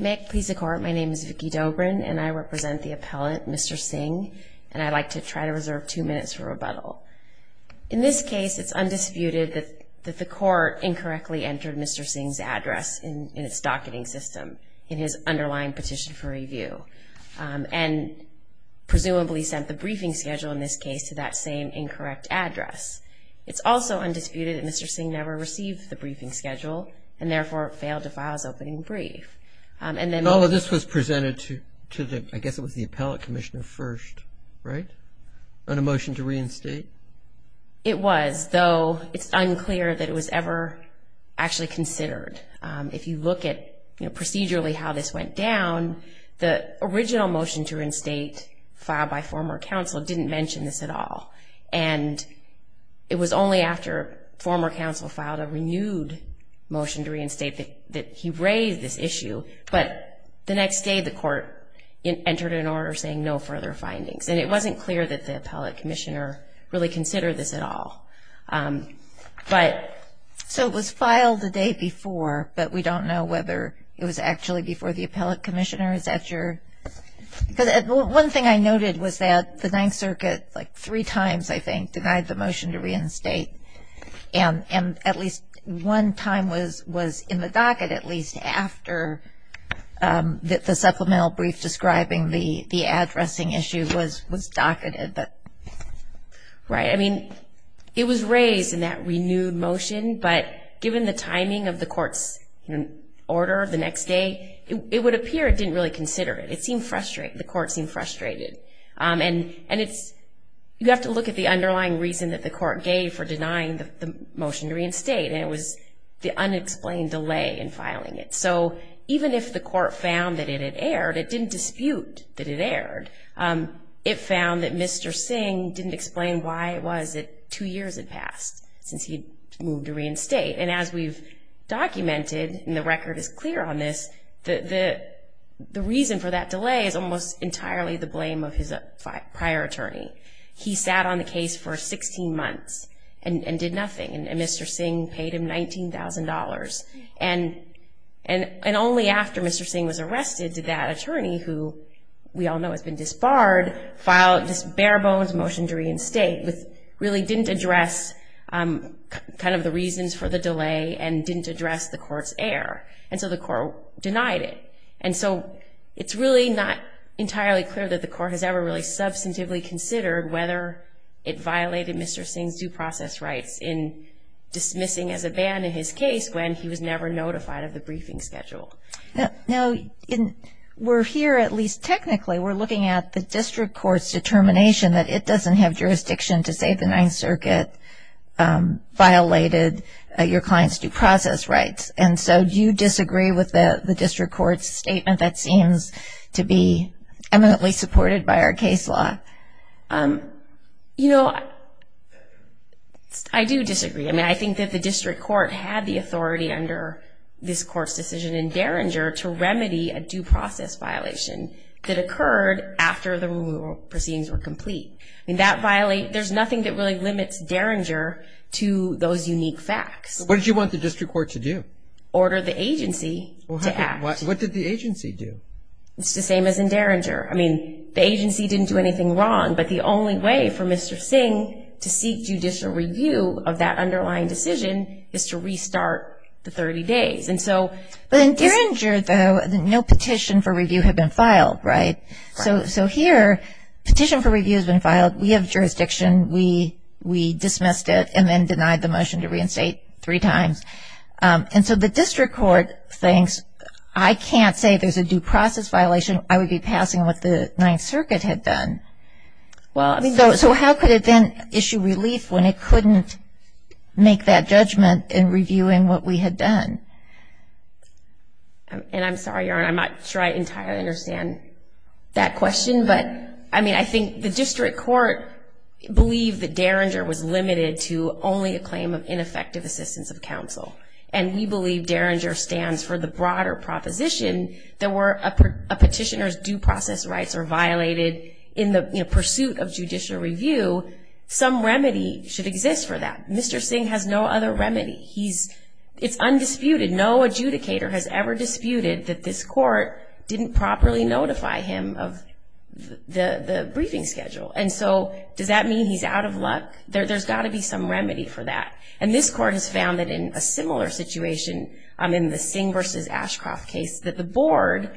May it please the Court, my name is Vicki Dobrin and I represent the appellant, Mr. Singh, and I'd like to try to reserve two minutes for rebuttal. In this case, it's undisputed that the Court incorrectly entered Mr. Singh's address in its docketing system in his underlying petition for review, and presumably sent the briefing schedule in this case to that same incorrect address. It's also undisputed that Mr. Singh never received the briefing schedule, and therefore failed to file his opening brief. And all of this was presented to the, I guess it was the appellate commissioner first, right? On a motion to reinstate? It was, though it's unclear that it was ever actually considered. If you look at procedurally how this went down, the original motion to reinstate filed by former counsel didn't mention this at all. And it was only after former counsel filed a renewed motion to reinstate that he raised this issue, but the next day the Court entered an order saying no further findings. And it wasn't clear that the appellate commissioner really considered this at all. But, so it was filed the day before, but we don't know whether it was actually before the appellate commissioner. One thing I noted was that the Ninth Circuit, like three times I think, denied the motion to reinstate. And at least one time was in the docket, at least after the supplemental brief describing the addressing issue was docketed. Right, I mean, it was raised in that renewed motion, but given the timing of the Court's order the next day, it would appear it didn't really consider it. It seemed frustrating, the Court seemed frustrated. And it's, you have to look at the underlying reason that the Court gave for denying the motion to reinstate, and it was the unexplained delay in filing it. So even if the Court found that it had erred, it didn't dispute that it erred. It found that Mr. Singh didn't explain why it was that two years had passed since he'd moved to reinstate. And as we've documented, and the record is clear on this, the reason for that delay is almost entirely the blame of his prior attorney. He sat on the case for 16 months and did nothing, and Mr. Singh paid him $19,000. And only after Mr. Singh was arrested did that attorney, who we all know has been disbarred, file this bare-bones motion to reinstate, which really didn't address kind of the reasons for the delay and didn't address the Court's error. And so the Court denied it. And so it's really not entirely clear that the Court has ever really substantively considered whether it violated Mr. Singh's due process rights in dismissing as a ban in his case when he was never notified of the briefing schedule. Now, we're here, at least technically, we're looking at the District Court's determination that it doesn't have jurisdiction to say the Ninth Circuit violated your client's due process rights. And so do you disagree with the District Court's statement that seems to be eminently supported by our case law? You know, I do disagree. I mean, I think that the District Court had the authority under this Court's decision in Derringer to remedy a due process violation that occurred after the removal proceedings were complete. I mean, there's nothing that really limits Derringer to those unique facts. What did you want the District Court to do? Order the agency to act. What did the agency do? It's the same as in Derringer. I mean, the agency didn't do anything wrong, but the only way for Mr. Singh to seek judicial review of that underlying decision is to restart the 30 days. But in Derringer, though, no petition for review had been filed, right? So here, petition for review has been filed. We have jurisdiction. We dismissed it and then denied the motion to reinstate three times. And so the District Court thinks, I can't say there's a due process violation. I would be passing what the Ninth Circuit had done. So how could it then issue relief when it couldn't make that judgment in reviewing what we had done? And I'm sorry, Your Honor, I'm not sure I entirely understand that question, but, I mean, I think the District Court believed that Derringer was limited to only a claim of ineffective assistance of counsel. And we believe Derringer stands for the broader proposition that were a petitioner's due process rights are violated in the pursuit of judicial review, some remedy should exist for that. Mr. Singh has no other remedy. It's undisputed. No adjudicator has ever disputed that this court didn't properly notify him of the briefing schedule. And so does that mean he's out of luck? There's got to be some remedy for that. And this court has found that in a similar situation, in the Singh v. Ashcroft case, that the board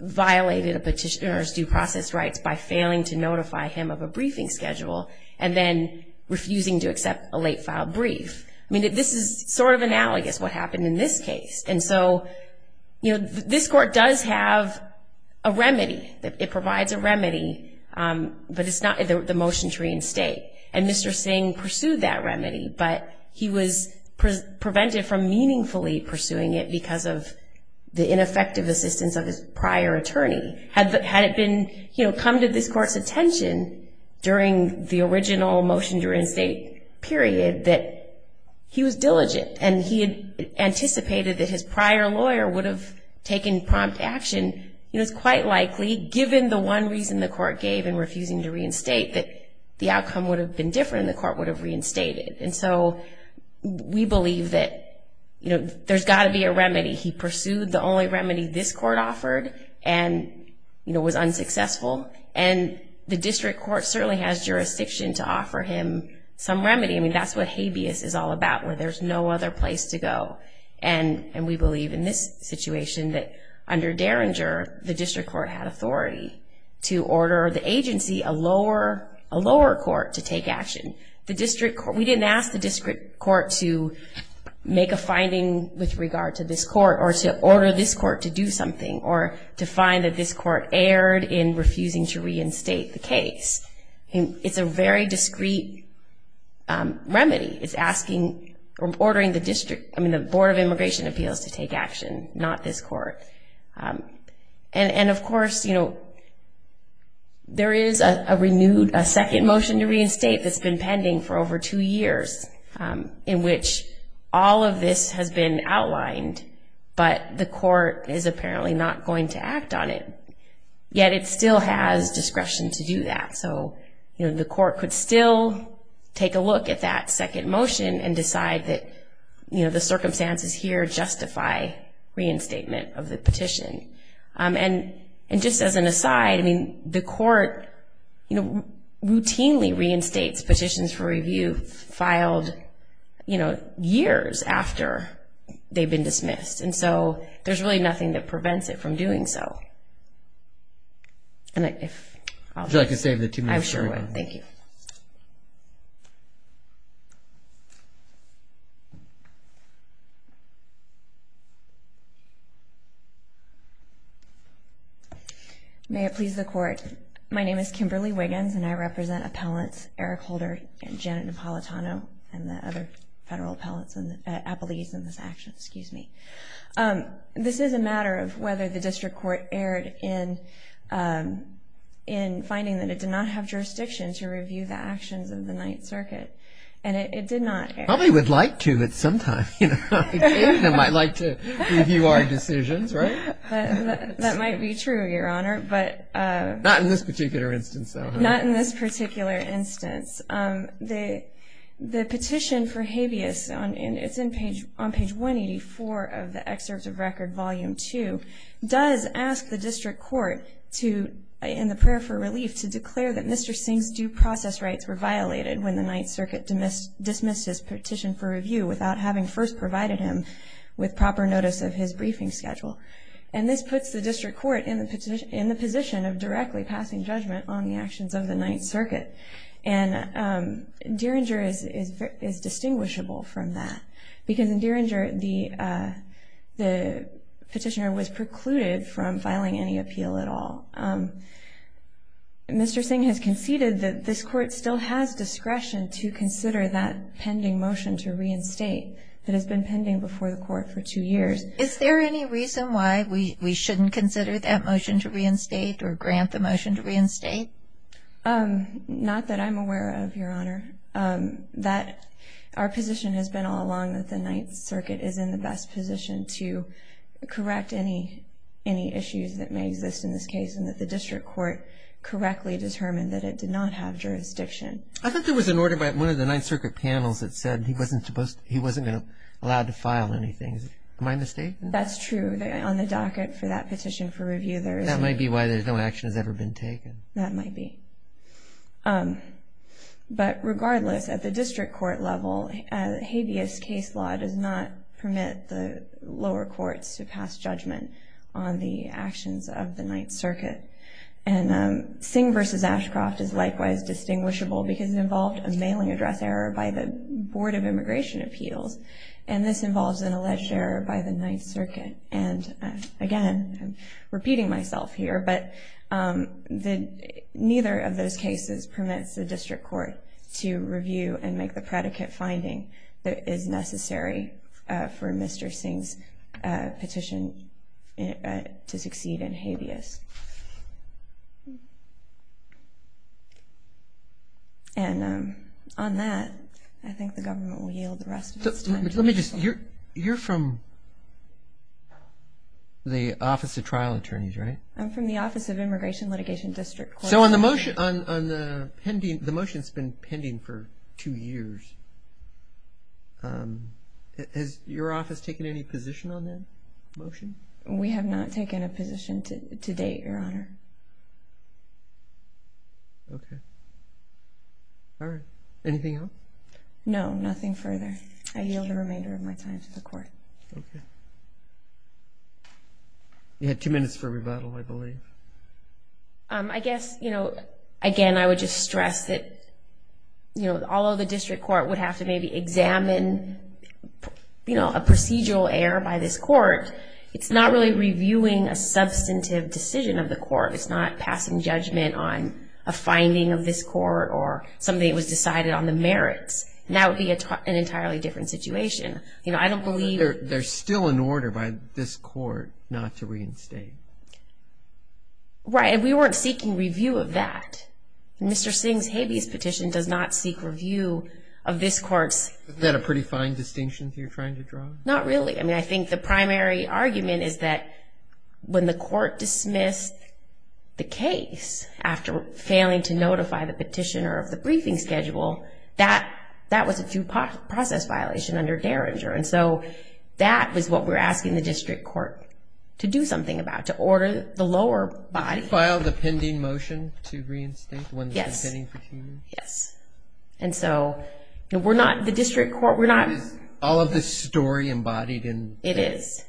violated a petitioner's due process rights by failing to notify him of a briefing schedule and then refusing to accept a late-filed brief. I mean, this is sort of analogous what happened in this case. And so, you know, this court does have a remedy. It provides a remedy, but it's not the motion to reinstate. And Mr. Singh pursued that remedy, but he was prevented from meaningfully pursuing it because of the ineffective assistance of his prior attorney. Had it been, you know, come to this court's attention during the original motion to reinstate, period, that he was diligent and he had anticipated that his prior lawyer would have taken prompt action, you know, it's quite likely, given the one reason the court gave in refusing to reinstate, that the outcome would have been different and the court would have reinstated. And so we believe that, you know, there's got to be a remedy. He pursued the only remedy this court offered and, you know, was unsuccessful. And the district court certainly has jurisdiction to offer him some remedy. I mean, that's what habeas is all about, where there's no other place to go. And we believe in this situation that under Derringer, the district court had authority to order the agency, a lower court, to take action. We didn't ask the district court to make a finding with regard to this court or to order this court to do something or to find that this court erred in refusing to reinstate the case. It's a very discreet remedy. It's asking, ordering the district, I mean, the Board of Immigration Appeals to take action, not this court. And, of course, you know, there is a renewed, a second motion to reinstate that's been pending for over two years, in which all of this has been outlined, but the court is apparently not going to act on it. Yet it still has discretion to do that. So, you know, the court could still take a look at that second motion and decide that, you know, the circumstances here justify reinstatement of the petition. And just as an aside, I mean, the court, you know, routinely reinstates petitions for review filed, you know, years after they've been dismissed. And so there's really nothing that prevents it from doing so. And if I could save the two minutes. I sure would. Thank you. May it please the Court. My name is Kimberly Wiggins, and I represent Appellants Eric Holder and Janet Napolitano and the other federal appellants and appellees in this action. Excuse me. This is a matter of whether the district court erred in finding that it did not have jurisdiction to review the actions of the Ninth Circuit. And it did not. Probably would like to at some time. They might like to review our decisions, right? That might be true, Your Honor, but. Not in this particular instance, though. Not in this particular instance. The petition for habeas, and it's on page 184 of the excerpt of record, volume two, does ask the district court to, in the prayer for relief, to declare that Mr. Singh's due process rights were violated when the Ninth Circuit dismissed his petition for review without having first provided him with proper notice of his briefing schedule. And this puts the district court in the position of directly passing judgment on the actions of the Ninth Circuit. And Derringer is distinguishable from that. Because in Derringer, the petitioner was precluded from filing any appeal at all. Mr. Singh has conceded that this court still has discretion to consider that pending motion to reinstate that has been pending before the court for two years. Is there any reason why we shouldn't consider that motion to reinstate or grant the motion to reinstate? Not that I'm aware of, Your Honor. Our position has been all along that the Ninth Circuit is in the best position to correct any issues that may exist in this case and that the district court correctly determined that it did not have jurisdiction. I thought there was an order by one of the Ninth Circuit panels that said he wasn't allowed to file anything. Am I mistaken? That's true. On the docket for that petition for review, there is. That might be why no action has ever been taken. That might be. But regardless, at the district court level, habeas case law does not permit the lower courts to pass judgment on the actions of the Ninth Circuit. And Singh v. Ashcroft is likewise distinguishable because it involved a mailing address error by the Board of Immigration Appeals. And this involves an alleged error by the Ninth Circuit. And, again, I'm repeating myself here, but neither of those cases permits the district court to review and make the predicate finding that is necessary for Mr. Singh's petition to succeed in habeas. And on that, I think the government will yield the rest of its time. Let me just, you're from the Office of Trial Attorneys, right? I'm from the Office of Immigration Litigation District Court. So on the motion, the motion's been pending for two years. Has your office taken any position on that motion? We have not taken a position to date. Okay. All right. Anything else? No, nothing further. I yield the remainder of my time to the court. Okay. You had two minutes for rebuttal, I believe. I guess, you know, again, I would just stress that, you know, although the district court would have to maybe examine, you know, a procedural error by this court, it's not really reviewing a substantive decision of the court. It's not passing judgment on a finding of this court or something that was decided on the merits. And that would be an entirely different situation. You know, I don't believe that there's still an order by this court not to reinstate. Right. And we weren't seeking review of that. Mr. Singh's habeas petition does not seek review of this court's. Isn't that a pretty fine distinction you're trying to draw? Not really. I mean, I think the primary argument is that when the court dismissed the case after failing to notify the petitioner of the briefing schedule, that was a due process violation under Derringer. And so that was what we were asking the district court to do something about, to order the lower body. To file the pending motion to reinstate, the one that's been pending for two years? Yes. And so we're not, the district court, we're not. But is all of this story embodied in this? It is.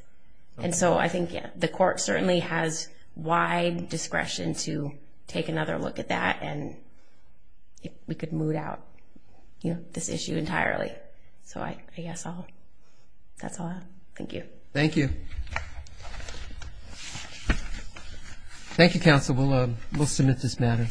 And so I think the court certainly has wide discretion to take another look at that and if we could moot out this issue entirely. So I guess I'll, that's all I have. Thank you. Thank you. Thank you, counsel. We'll submit this matter.